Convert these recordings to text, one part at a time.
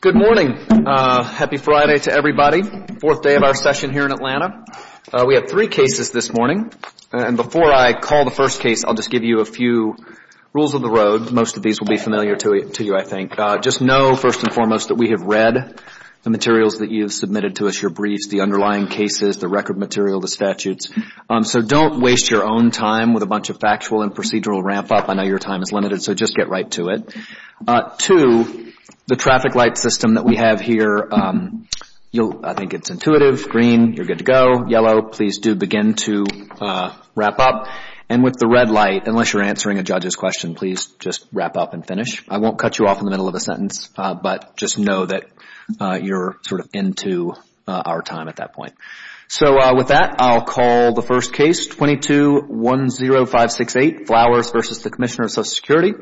Good morning. Happy Friday to everybody. Fourth day of our session here in Atlanta. We have three cases this morning, and before I call the first case, I'll just give you a few rules of the road. Most of these will be familiar to you, I think. Just know first and foremost that we have read the materials that you have submitted to us, your briefs, the underlying cases, the record material, the statutes. So don't waste your own time with a bunch of factual and procedural ramp up. I know your time is limited, so just get right to it. Two, the traffic light system that we have here, I think it's intuitive. Green, you're good to go. Yellow, please do begin to wrap up. And with the red light, unless you're answering a judge's question, please just wrap up and finish. I won't cut you off in the middle of a sentence, but just know that you're sort of into our time at that point. So with that, I'll call the first case, 22-10568, Flowers v. the Commissioner of Social Security.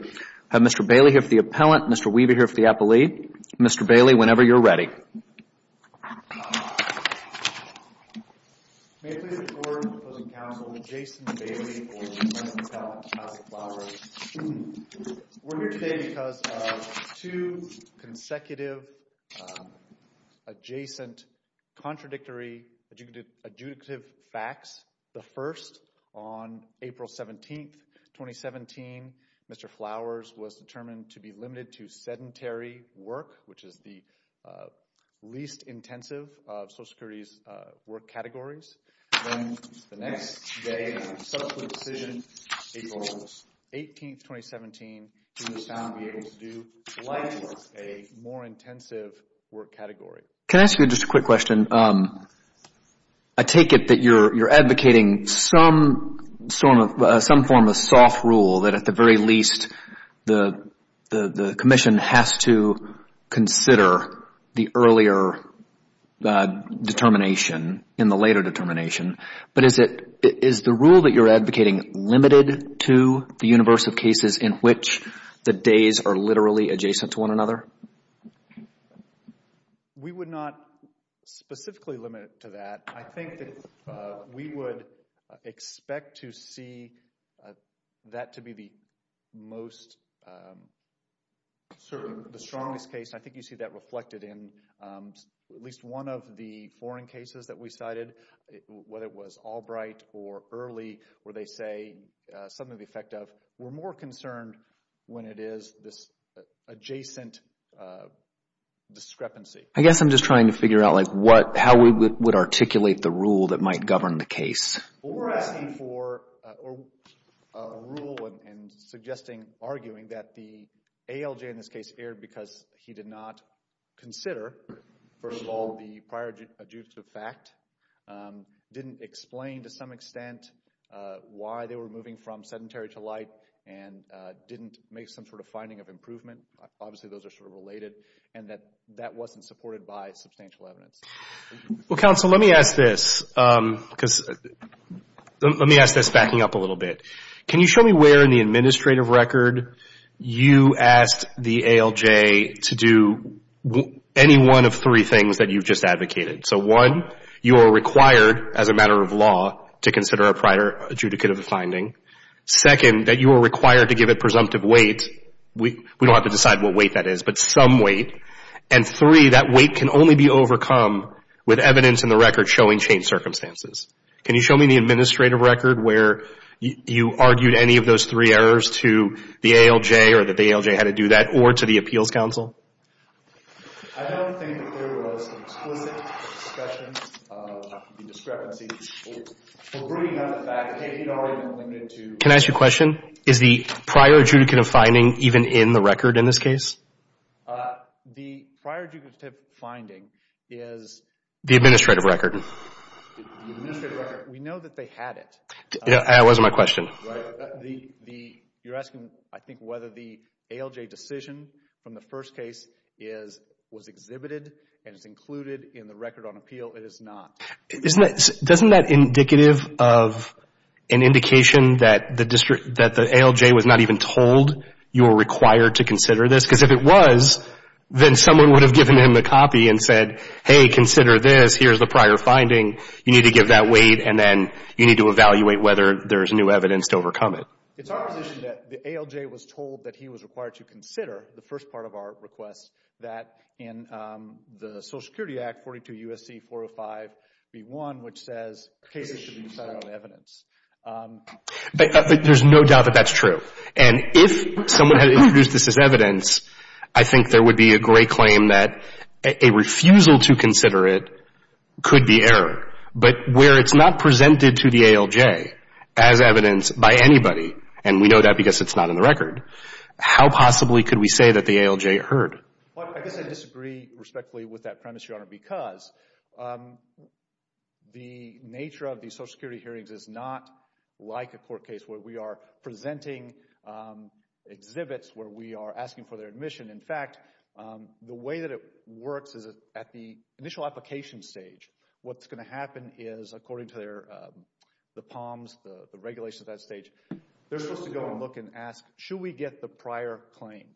I have Mr. Bailey here for the appellant, Mr. Weaver here for the appellee. Mr. Bailey, whenever you're ready. May I please have the floor of the opposing counsel, Jason Bailey, for the remand of the two consecutive adjacent contradictory adjudicative facts. The first, on April 17, 2017, Mr. Flowers was determined to be limited to sedentary work, which is the least intensive of Social Security's work categories. Then the next day of subsequent decision, April 18, 2017, he was found to be able to do less, a more intensive work category. Can I ask you just a quick question? I take it that you're advocating some form of soft rule that at the very least the Commission has to consider the earlier determination in the later determination. But is the rule that you're advocating limited to the universe of cases in which the days are literally adjacent to one another? We would not specifically limit it to that. I think that we would expect to see that to be the most certain, the strongest case. I think you see that reflected in at least one of the foreign cases that we cited, whether it was Albright or Early, where they say something to the effect of, we're more concerned when it is this adjacent discrepancy. I guess I'm just trying to figure out like what, how we would articulate the rule that might govern the case. We're asking for a rule and suggesting, arguing that the ALJ in this case erred because he did not consider, first of all, the prior adjudicative fact, didn't explain to some commentary to light, and didn't make some sort of finding of improvement. Obviously, those are sort of related, and that that wasn't supported by substantial evidence. Well, counsel, let me ask this, because let me ask this backing up a little bit. Can you show me where in the administrative record you asked the ALJ to do any one of three things that you've just advocated? So one, you are required as a matter of law to consider a prior adjudicative finding. Second, that you are required to give a presumptive weight. We don't have to decide what weight that is, but some weight. And three, that weight can only be overcome with evidence in the record showing changed circumstances. Can you show me the administrative record where you argued any of those three errors to the ALJ, or that the ALJ had to do that, or to the appeals counsel? I don't think that there was an explicit discussion of the discrepancy. For bringing up the issue of fact, I think it already limited to... Can I ask you a question? Is the prior adjudicative finding even in the record in this case? The prior adjudicative finding is... The administrative record. The administrative record. We know that they had it. That wasn't my question. You're asking, I think, whether the ALJ decision from the first case was exhibited and is included in the record on appeal. It is not. Isn't that indicative of an indication that the ALJ was not even told you were required to consider this? Because if it was, then someone would have given him the copy and said, hey, consider this. Here's the prior finding. You need to give that weight, and then you need to evaluate whether there's new evidence to overcome it. It's our position that the ALJ was told that he was required to consider the first part of our request, that in the Social Security Act 42 U.S.C. 405 B.1, which says cases should be decided on evidence. There's no doubt that that's true. If someone had introduced this as evidence, I think there would be a great claim that a refusal to consider it could be error. Where it's not presented to the ALJ as evidence by anybody, and we know that because it's not in the record, how possibly could we say that the ALJ heard? Well, I guess I disagree respectfully with that premise, Your Honor, because the nature of the Social Security hearings is not like a court case where we are presenting exhibits, where we are asking for their admission. In fact, the way that it works is at the initial application stage, what's going to happen is, according to the POMS, the regulations at that stage, they're supposed to go and look and ask, should we get the prior claim?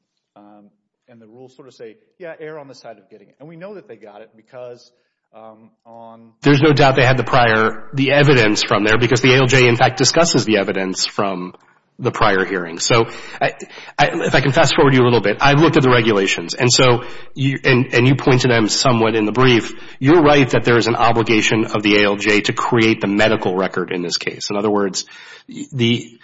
And the rules sort of say, yeah, err on the side of getting it. And we know that they got it because on... There's no doubt they had the prior, the evidence from there, because the ALJ in fact discusses the evidence from the prior hearing. So, if I can fast forward you a little bit, I've looked at the regulations, and so, and you point to them somewhat in the brief, you're right that there is an obligation of the ALJ to create the medical record in this case. In other words, the,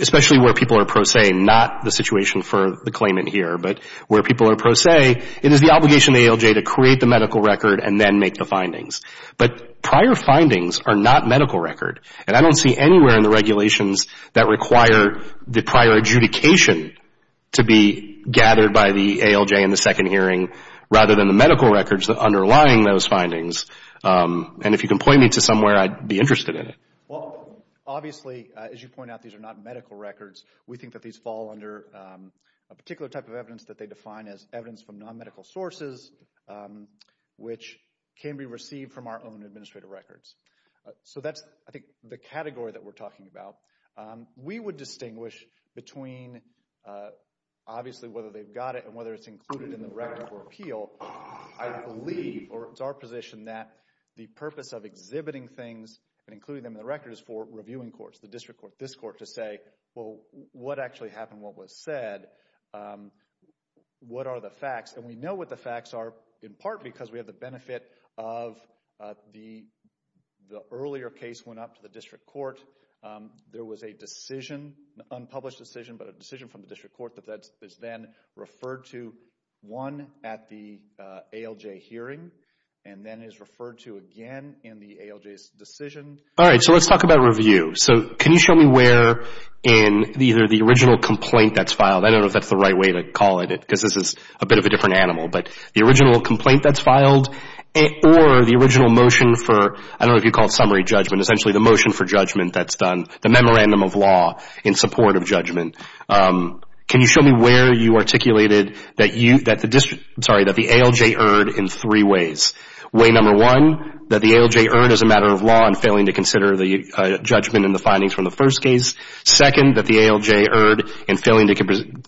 especially where people are pro se, not the situation for the claimant here, but where people are pro se, it is the obligation of the ALJ to create the medical record and then make the findings. But prior findings are not medical record. And I don't see anywhere in the regulations that require the prior adjudication to be gathered by the ALJ in the second hearing, rather than the medical records underlying those findings. And if you can point me to somewhere, I'd be interested in it. Well, obviously, as you point out, these are not medical records. We think that these fall under a particular type of evidence that they define as evidence from non-medical sources, which can be received from our own administrative records. So that's, I think, the category that we're talking about. We would distinguish between, obviously, whether they've got it and whether it's included in the record for appeal. I believe, or it's our position, that the purpose of exhibiting things and including them in the record is for reviewing courts, the district court, this court, to say, well, what actually happened? What was said? What are the facts? And we know what the facts are in part because we have the benefit of the earlier case went up to the district court. There was a decision, an unpublished decision, but a decision from the district court that is then referred to, one, at the ALJ hearing and then is referred to again in the ALJ's decision. All right. So let's talk about review. So can you show me where in either the original complaint that's filed, I don't know if that's the right way to call it because this is a bit of a different animal, but the original complaint that's filed or the original motion for, I don't know if you'd call it summary judgment, essentially the motion for judgment that's done, the memorandum of law in support of judgment. Can you show me where you articulated that the ALJ erred in three ways? Way number one, that the ALJ erred as a matter of law in failing to consider the judgment and the findings from the first case. Second, that the ALJ erred in failing to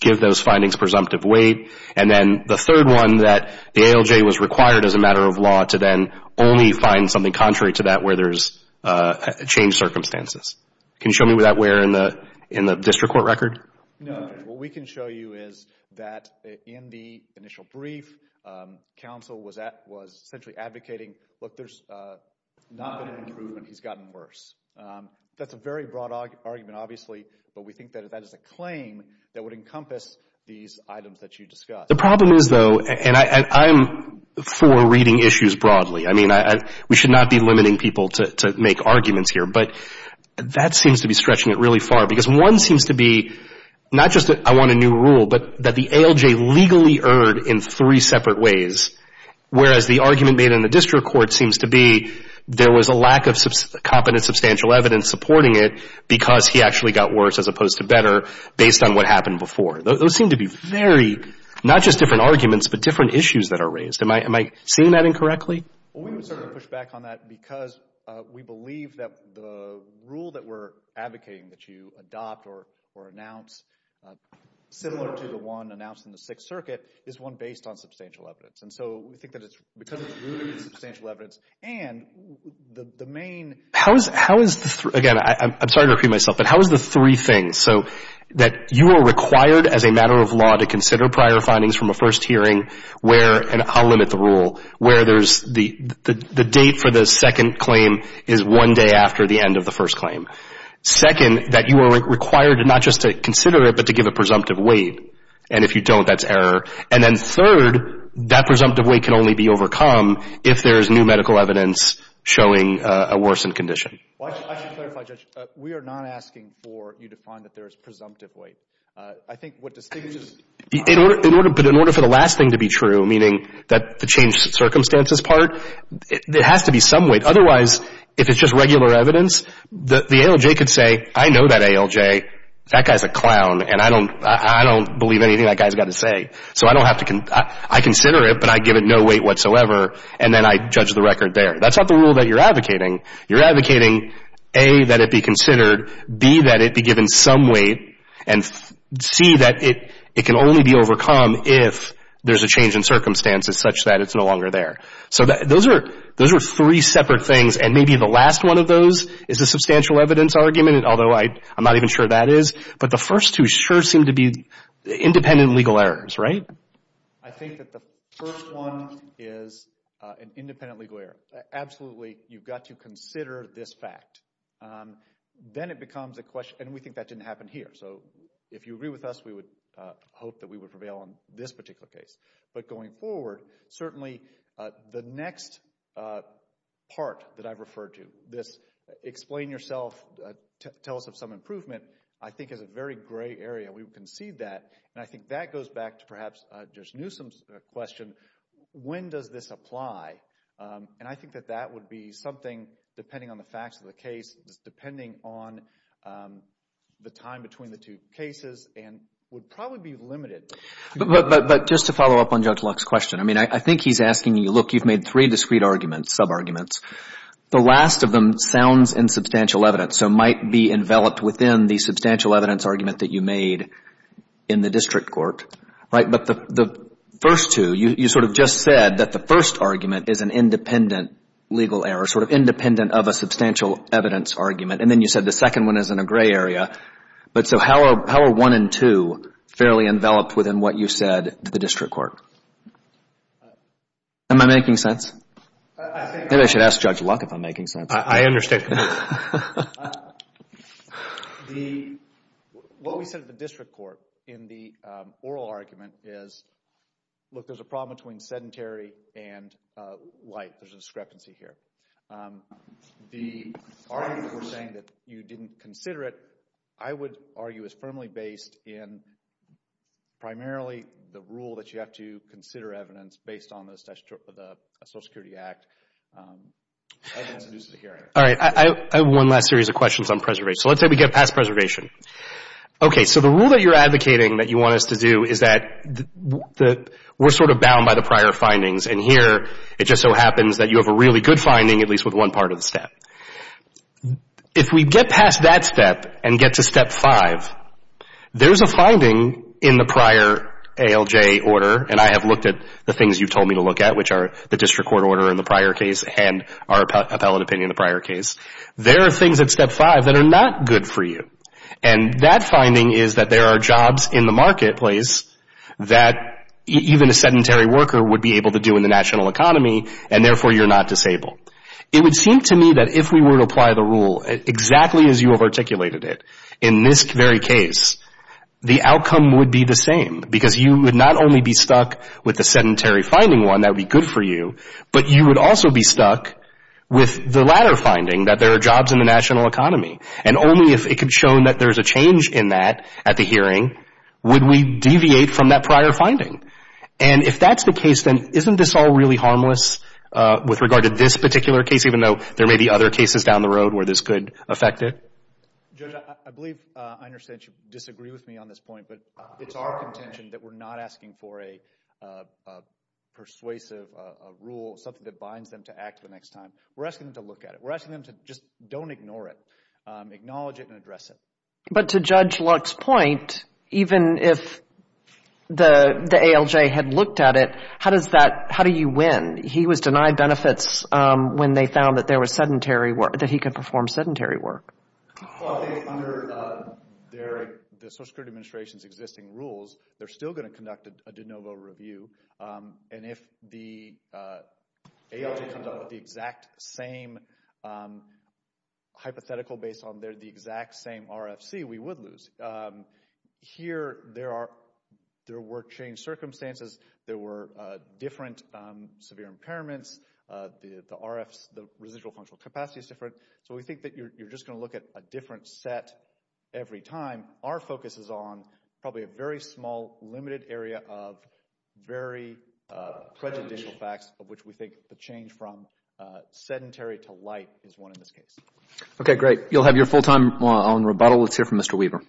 give those findings presumptive weight. And then the third one, that the ALJ was required as a matter of law to then only find something contrary to that where there's changed circumstances. Can you show me where in the district court record? No. What we can show you is that in the initial brief, counsel was essentially advocating, look, there's not been an improvement. He's gotten worse. That's a very broad argument obviously, but we think that that is a claim that would encompass these items that you discussed. The problem is though, and I'm for reading issues broadly. I mean, we should not be limiting people to make arguments here, but that seems to be stretching it really far because one seems to be not just that I want a new rule, but that the ALJ legally erred in three separate ways, whereas the argument made in the district court seems to be there was a lack of competent substantial evidence supporting it because he actually got worse as opposed to better based on what happened before. Those seem to be very, not just different arguments, but different issues that are raised. Am I seeing that incorrectly? Well, we would certainly push back on that because we believe that the rule that we're announcing, similar to the one announced in the Sixth Circuit, is one based on substantial evidence. We think that it's because it's rooted in substantial evidence and the main How is the, again, I'm sorry to repeat myself, but how is the three things? That you are required as a matter of law to consider prior findings from a first hearing where, and I'll limit the rule, where there's the date for the second claim is one day after the end of the first claim. Second, that you are required not just to consider it, but to give a presumptive weight. And if you don't, that's error. And then third, that presumptive weight can only be overcome if there is new medical evidence showing a worsened condition. I should clarify, Judge, we are not asking for you to find that there is presumptive weight. I think what distinguishes In order, but in order for the last thing to be true, meaning that the changed circumstances part, there has to be some weight. Otherwise, if it's just regular evidence, the ALJ could say, I know that ALJ, that guy's a clown, and I don't believe anything that guy's got to say. So I don't have to, I consider it, but I give it no weight whatsoever, and then I judge the record there. That's not the rule that you're advocating. You're advocating, A, that it be considered, B, that it be given some weight, and C, that it can only be overcome if there's a change in circumstances such that it's no longer there. So those are three separate things, and maybe the last one of those is a substantial evidence argument, although I'm not even sure that is. But the first two sure seem to be independent legal errors, right? I think that the first one is an independent legal error. Absolutely, you've got to consider this fact. Then it becomes a question, and we think that didn't happen here. So if you would prevail on this particular case. But going forward, certainly the next part that I've referred to, this explain yourself, tell us of some improvement, I think is a very gray area. We would concede that, and I think that goes back to perhaps Judge Newsom's question, when does this apply? And I think that that would be something, depending on the facts of the case, depending on the time between the two cases, and would probably be limited. But just to follow up on Judge Luck's question, I mean, I think he's asking you, look, you've made three discrete arguments, sub-arguments. The last of them sounds in substantial evidence, so might be enveloped within the substantial evidence argument that you made in the district court, right? But the first two, you sort of just said that the first argument is an enveloped evidence argument, and then you said the second one is in a gray area. But so how are one and two fairly enveloped within what you said to the district court? Am I making sense? I think I should ask Judge Luck if I'm making sense. I understand. What we said at the district court in the oral argument is, look, there's a problem between sedentary and light. There's a discrepancy here. The argument for saying that you didn't consider it, I would argue, is firmly based in primarily the rule that you have to consider evidence based on the Social Security Act. All right. I have one last series of questions on preservation. So let's say we get past preservation. Okay. So the rule that you're advocating that you have a really good finding, at least with one part of the step. If we get past that step and get to step five, there's a finding in the prior ALJ order, and I have looked at the things you told me to look at, which are the district court order in the prior case and our appellate opinion in the prior case. There are things at step five that are not good for you. And that finding is that there are jobs in the marketplace that even a sedentary worker would be able to do in the national economy, and therefore you're not disabled. It would seem to me that if we were to apply the rule, exactly as you have articulated it, in this very case, the outcome would be the same, because you would not only be stuck with the sedentary finding one that would be good for you, but you would also be stuck with the latter finding, that there are jobs in the national economy. And only if it could show that there's a change in that at the hearing would we deviate from that prior finding. And if that's the case, then isn't this all really harmless with regard to this particular case, even though there may be other cases down the road where this could affect it? Judge, I believe I understand that you disagree with me on this point, but it's our contention that we're not asking for a persuasive rule, something that binds them to act the next time. We're asking them to look at it. We're asking them to just don't ignore it. Acknowledge it and address it. But to Judge Luck's point, even if the ALJ had looked at it, how do you win? He was denied benefits when they found that there was sedentary work, that he could perform sedentary work. Well, I think under the Social Security Administration's existing rules, they're still going to conduct a de novo review. And if the ALJ comes up with the exact same hypothetical based on the exact same RFC, we would lose. Here, there were changed circumstances. There were different severe impairments. The residual functional capacity is different. So we think that you're just going to look at a different set every time. Our focus is on probably a very small limited area of very prejudicial facts, of which we think the change from sedentary to light is one in this case. Okay, great. You'll have your full time on rebuttal. Let's hear from Mr. Weaver.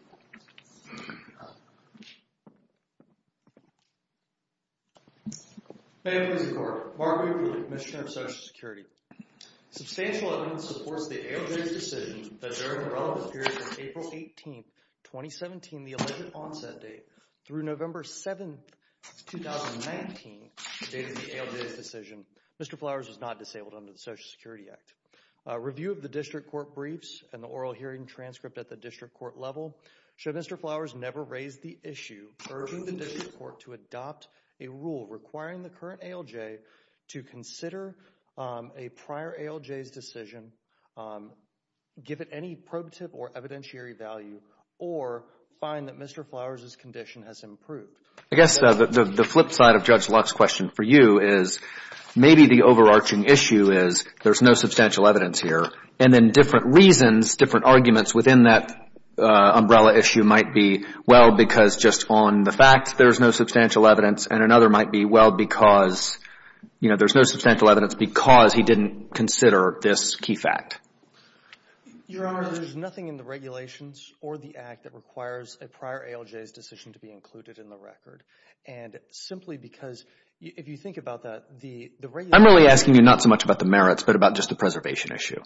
Ma'am, please record. Mark Weaver, Commissioner of Social Security. Substantial evidence supports the ALJ's decision that during the relevant period from April 18, 2017, the alleged onset date, through November 7, 2019, the date of the ALJ's decision, Mr. Flowers was not disabled under the Social Security Act. Review of the district court briefs and the oral hearing transcript at the district court level show Mr. Flowers never raised the issue, urging the district court to adopt a rule requiring the current ALJ to consider a prior ALJ's decision, give it any probative or evidentiary value, or find that Mr. Flowers' condition has improved. I guess the flip side of Judge Luck's question for you is maybe the overarching issue is there's no substantial evidence here, and then different reasons, different arguments within that umbrella issue might be, well, because just on the fact there's no substantial evidence, and another might be, well, because, you know, there's no substantial evidence because he didn't consider this key fact. Your Honor, there's nothing in the regulations or the Act that requires a prior ALJ's decision to be included in the record, and simply because, if you think about that, the regulations... I'm really asking you not so much about the merits, but about just the preservation issue.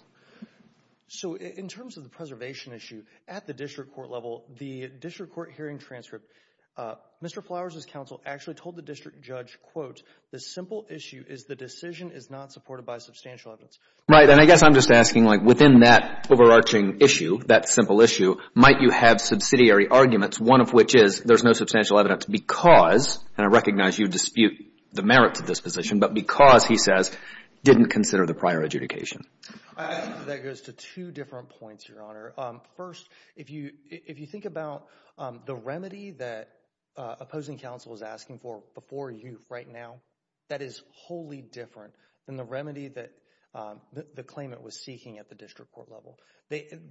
So in terms of the preservation issue, at the district court level, the district court hearing transcript, Mr. Flowers' counsel actually told the district judge, quote, the simple issue is the decision is not supported by substantial evidence. Right, and I guess I'm just asking, like, within that overarching issue, that simple issue, might you have subsidiary arguments, one of which is there's no substantial evidence because, and I recognize you dispute the merits of this position, but because, he says, didn't consider the prior adjudication. That goes to two different points, Your Honor. First, if you think about the remedy that opposing counsel is asking for before you right now, that is wholly different than the remedy that the claimant was seeking at the district court level.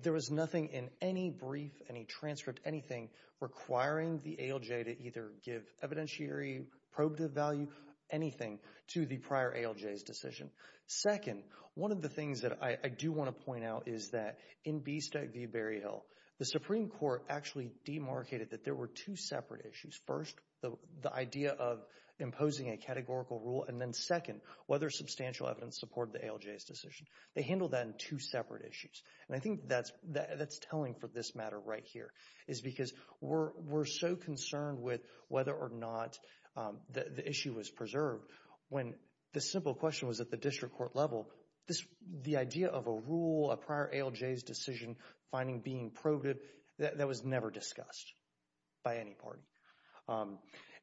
There was nothing in any brief, any transcript, anything, requiring the ALJ to either give evidentiary probative value, anything, to the prior ALJ's decision. Second, one of the things that I do want to point out is that in B-STEC v. Berryhill, the Supreme Court actually demarcated that there were two separate issues. First, the idea of imposing a categorical rule, and then second, whether substantial evidence supported the ALJ's decision. They handled that in two separate issues, and I think that's telling for this matter right here, is because we're so concerned with whether or not the issue was preserved when the simple question was at the district court level, the idea of a rule, a prior ALJ's decision finding being probative, that was never discussed by any party.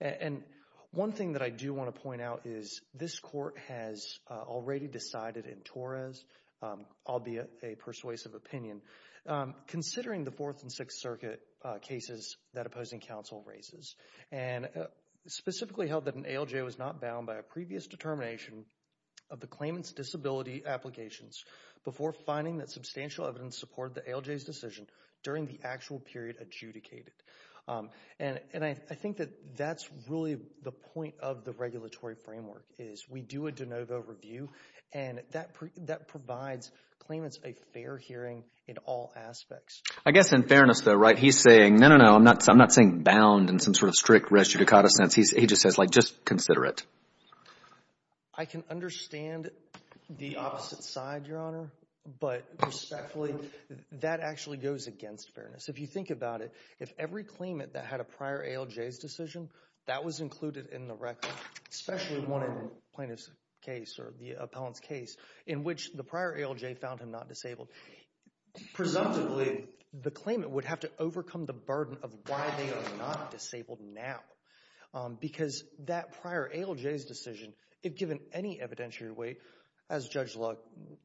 And one thing that I do want to point out is this court has already decided in Torres, albeit a persuasive opinion, considering the Fourth and Sixth Circuit cases that opposing counsel raises, and specifically held that an ALJ was not bound by a previous determination of the claimant's disability applications before finding that substantial evidence supported the ALJ's decision during the actual period adjudicated. And I think that that's really the point of the regulatory framework, is we do a de novo review, and that provides claimants a fair hearing in all aspects. I guess in fairness though, right, he's saying, no, no, no, I'm not saying bound in some sort of strict res judicata sense, he just says, like, just consider it. I can understand the opposite side, Your Honor, but respectfully, that actually goes against fairness. If you think about it, if every claimant that had a prior ALJ's decision, that was included in the record, especially one in the plaintiff's case or the appellant's case, in which the prior ALJ found him not disabled, presumptively, the claimant would have to overcome the burden of why they are not disabled now. Because that prior ALJ's decision, if given any evidentiary weight, as Judge Luck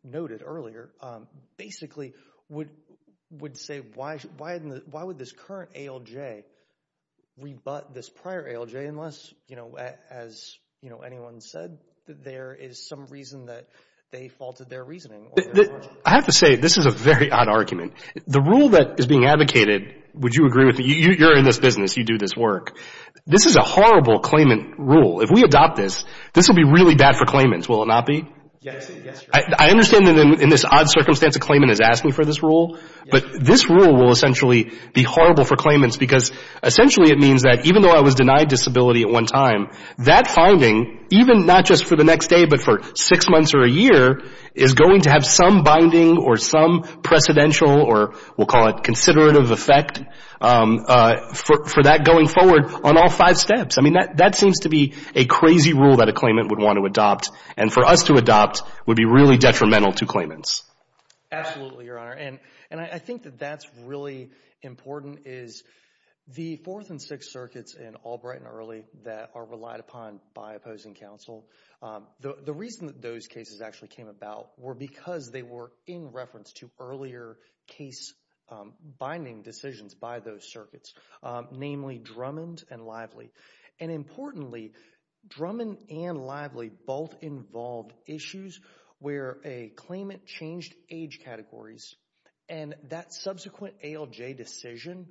noted earlier, basically would say, why would this current ALJ rebut this prior ALJ, unless, you know, as anyone said, there is some reason that they faulted their reasoning? I have to say, this is a very odd argument. The rule that is being advocated, would you agree with me, you're in this business, you do this work, this is a horrible claimant rule. If we adopt this, this will be really bad for claimants, will it not be? Yes, Your Honor. I understand that in this odd circumstance a claimant is asking for this rule, but this rule will essentially be horrible for claimants, because essentially it means that even though I was denied disability at one time, that finding, even not just for the next day, but for six months or a year, is going to have some binding or some precedential or we'll call it considerative effect for that going forward on all five steps. I mean, that seems to be a crazy rule that a claimant would want to adopt, and for us to adopt would be really detrimental to claimants. Absolutely, Your Honor. And I think that that's really important, is the fourth and sixth circuits in Albright and Early that are relied upon by opposing counsel. The reason that those cases actually came about were because they were in reference to earlier case binding decisions by those circuits, namely Drummond and Lively. And importantly, Drummond and Lively both involved issues where a claimant changed age categories and that subsequent ALJ decision,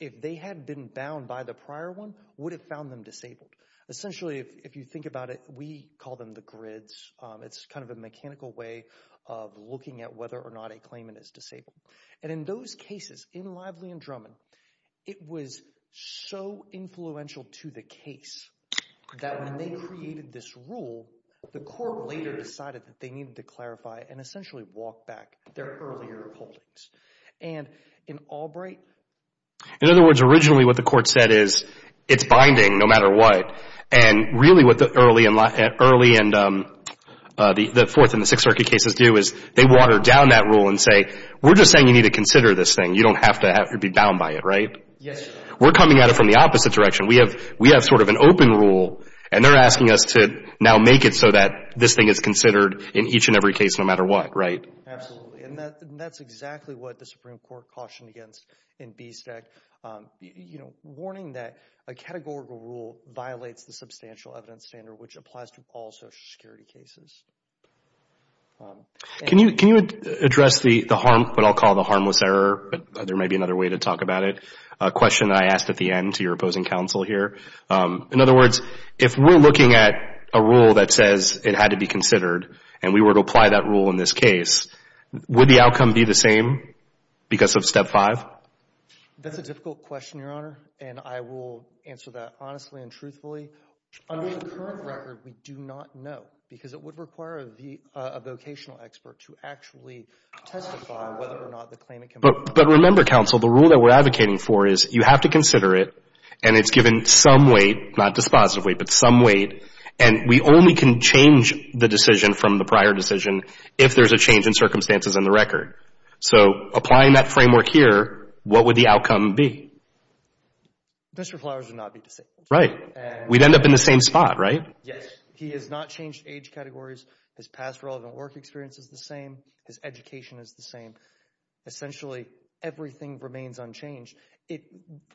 if they had been bound by the prior one, would have found them disabled. Essentially if you think about it, we call them the grids. It's kind of a mechanical way of looking at whether or not a claimant is disabled. And in those cases, in Lively and Drummond, it was so influential to the case that when they created this rule, the court later decided that they needed to clarify and essentially walk back their earlier holdings. And in Albright... In other words, originally what the court said is, it's binding no matter what. And really what the Early and the fourth and the sixth circuit cases do is they water down that rule and say, we're just saying you need to consider this thing. You don't have to be bound by it, right? Yes. We're coming at it from the opposite direction. We have sort of an open rule and they're asking us to now make it so that this thing is considered in each and every case no matter what, right? Absolutely. And that's exactly what the Supreme Court cautioned against in BSTEC. Warning that a categorical rule violates the substantial evidence standard which applies to all social security cases. Can you address the harm, what I'll call the harmless error, but there may be another way to talk about it, a question that I asked at the end to your opposing counsel here. In other words, if we're looking at a rule that says it had to be considered and we were to apply that rule in this case, would the outcome be the same because of step five? That's a difficult question, Your Honor, and I will answer that honestly and truthfully. Under the current record, we do not know because it would require a vocational expert to actually testify whether or not the claimant can vote. But remember, counsel, the rule that we're advocating for is you have to consider it and it's given some weight, not dispositive weight, but some weight, and we only can change the decision from the prior decision if there's a change in circumstances in the record. So applying that framework here, what would the outcome be? Mr. Flowers would not be dissenting. Right. We'd end up in the same spot, right? Yes. He has not changed age categories. His past relevant work experience is the same. His education is the same. Essentially everything remains unchanged.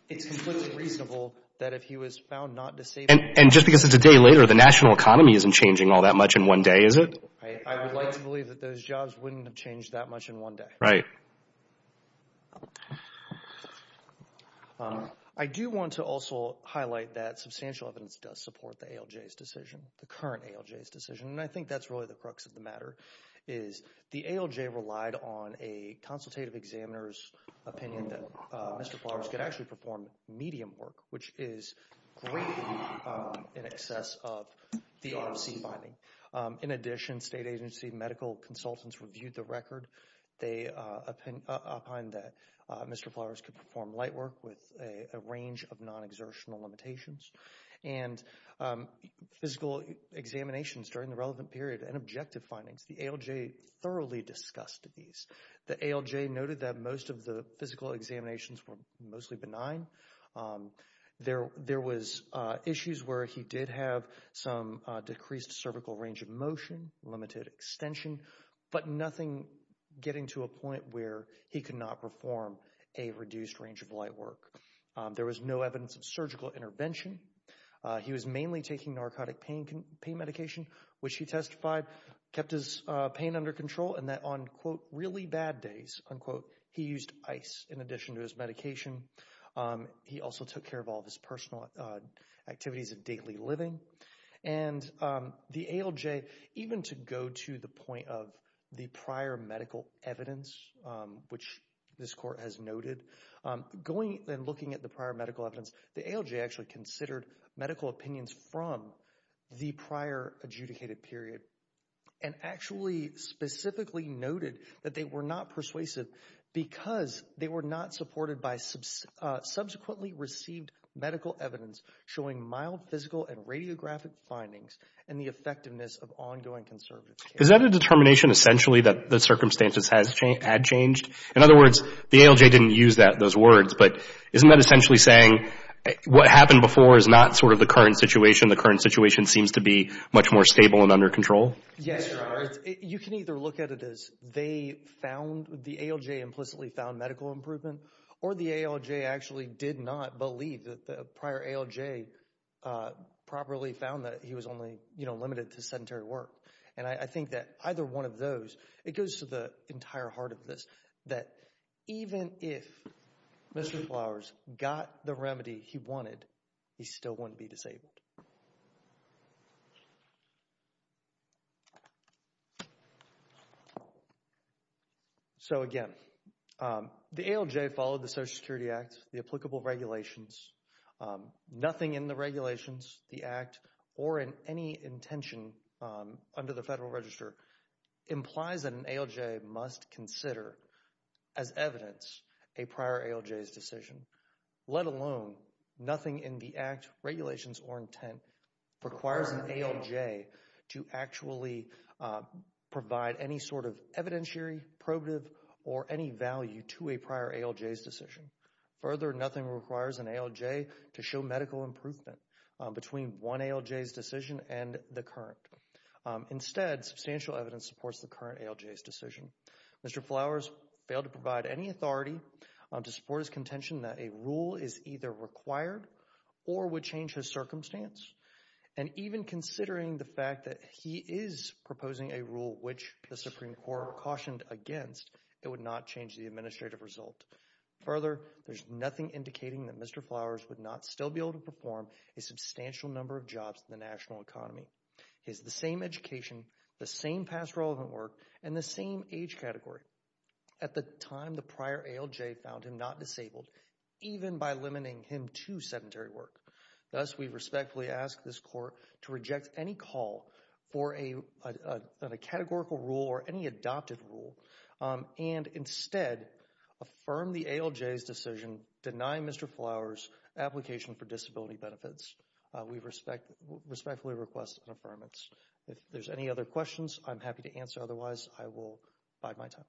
It's completely reasonable that if he was found not disabled... And just because it's a day later, the national economy isn't changing all that much in one day, is it? I would like to believe that those jobs wouldn't have changed that much in one day. Right. I do want to also highlight that substantial evidence does support the ALJ's decision, the current ALJ's decision, and I think that's really the crux of the matter. The ALJ relied on a consultative examiner's opinion that Mr. Flowers could actually perform medium work, which is greatly in excess of the ROC finding. In addition, state agency medical consultants reviewed the record. They opined that Mr. Flowers could perform light work with a range of non-exertional limitations. And physical examinations during the relevant period and objective findings, the ALJ thoroughly discussed these. The ALJ noted that most of the physical examinations were mostly benign. There was issues where he did have some decreased cervical range of motion, limited extension, but nothing getting to a point where he could not perform a reduced range of light work. There was no evidence of surgical intervention. He was mainly taking narcotic pain medication, which he testified kept his pain under control and that on, quote, really bad days, unquote, he used ice in addition to his medication. He also took care of all of his personal activities of daily living. And the ALJ, even to go to the point of the prior medical evidence, which this court has noted, going and looking at the prior medical evidence, the ALJ actually considered medical opinions from the prior adjudicated period and actually specifically noted that they were not persuasive because they were not supported by subsequently received medical evidence showing mild physical and radiographic findings and the effectiveness of ongoing conservative care. Is that a determination essentially that the circumstances had changed? In other words, the ALJ didn't use those words, but isn't that essentially saying what happened before is not sort of the current situation, the current situation seems to be much more stable and under control? Yes, sir. You can either look at it as they found, the ALJ implicitly found medical improvement, or the ALJ actually did not believe that the prior ALJ properly found that he was only limited to sedentary work. And I think that either one of those, it goes to the entire heart of this, that even if Mr. Flowers got the remedy he wanted, he still wouldn't be disabled. So, again, the ALJ followed the Social Security Act, the applicable regulations. Nothing in the regulations, the act, or in any intention under the federal register implies that an ALJ must consider as evidence a prior ALJ's decision, let alone nothing in the act, regulations, or intent requires an ALJ to actually provide any sort of evidentiary, probative, or any value to a prior ALJ's decision. Further, nothing requires an ALJ to show medical improvement between one ALJ's decision and the current. Instead, substantial evidence supports the current ALJ's decision. Mr. Flowers failed to provide any authority to support his contention that a rule is either required or would change his circumstance. And even considering the fact that he is proposing a rule which the Supreme Court cautioned against, it would not change the administrative result. Further, there's nothing indicating that Mr. Flowers would not still be able to perform a substantial number of jobs in the national economy. He has the same education, the same past relevant work, and the same age category. At the time, the prior ALJ found him not disabled, even by limiting him to sedentary work. Thus, we respectfully ask this Court to reject any call for a categorical rule or any adopted rule, and instead, affirm the ALJ's decision, deny Mr. Flowers' application for disability benefits. We respectfully request an affirmance. If there's any other questions, I'm happy to answer. Otherwise, I will bide my time.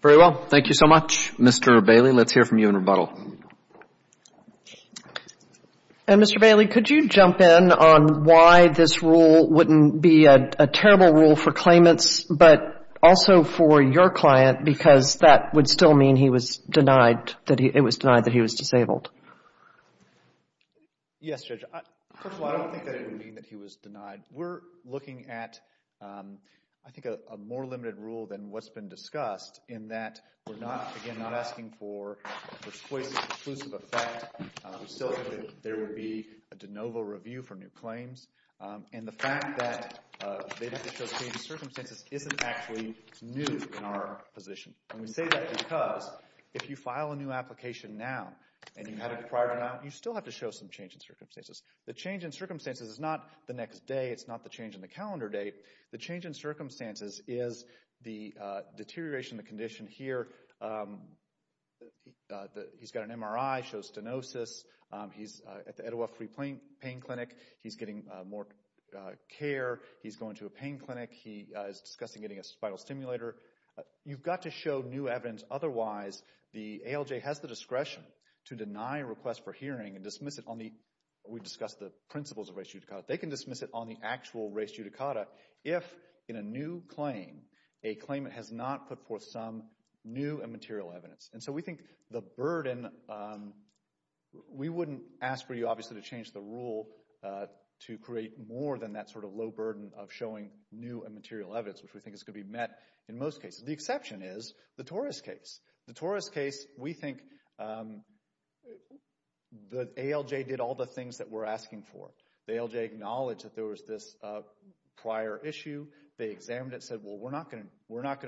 Very well. Thank you so much. Mr. Bailey, let's hear from you in rebuttal. And Mr. Bailey, could you jump in on why this rule wouldn't be a terrible rule for claimants, but also for your client, because that would still mean he was denied, that it was denied that he was disabled. Yes, Judge. First of all, I don't think that it would mean that he was denied. We're looking at, I think, a more limited rule than what's been discussed in that we're not, again, not asking for a persuasive, conclusive effect. We still think that there would be a de novo review for new claims. And the fact that they have to show changes in circumstances isn't actually new in our position. And we say that because if you file a new application now, and you had it prior to now, you still have to show some change in circumstances. The change in circumstances is not the next day. It's not the change in the calendar date. The change in circumstances is the deterioration of the condition here. He's got an MRI, shows stenosis. He's at the Etowah Free Pain Clinic. He's getting more care. He's going to a pain clinic. He is discussing getting a spinal stimulator. You've got to show new evidence. Otherwise, the ALJ has the discretion to deny a request for hearing and dismiss it on the We discussed the principles of res judicata. They can dismiss it on the actual res judicata if, in a new claim, a claimant has not put forth some new and material evidence. And so we think the burden, we wouldn't ask for you, obviously, to change the rule to create more than that sort of low burden of showing new and material evidence, which we think is going to be met in most cases. The exception is the Torres case. The Torres case, we think the ALJ did all the things that we're asking for. The ALJ acknowledged that there was this prior issue. They examined it and said, well, we're not going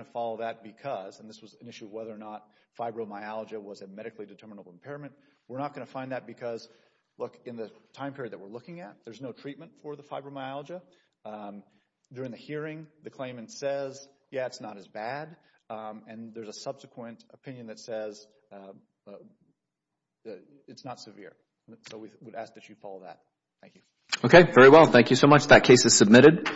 to follow that because, and this was an issue of whether or not fibromyalgia was a medically determinable impairment. We're not going to find that because, look, in the time period that we're looking at, there's no treatment for the fibromyalgia. During the hearing, the claimant says, yeah, it's not as bad. And there's a subsequent opinion that says it's not severe. So we would ask that you follow that. Thank you. Okay. Very well. Thank you so much. That case is submitted.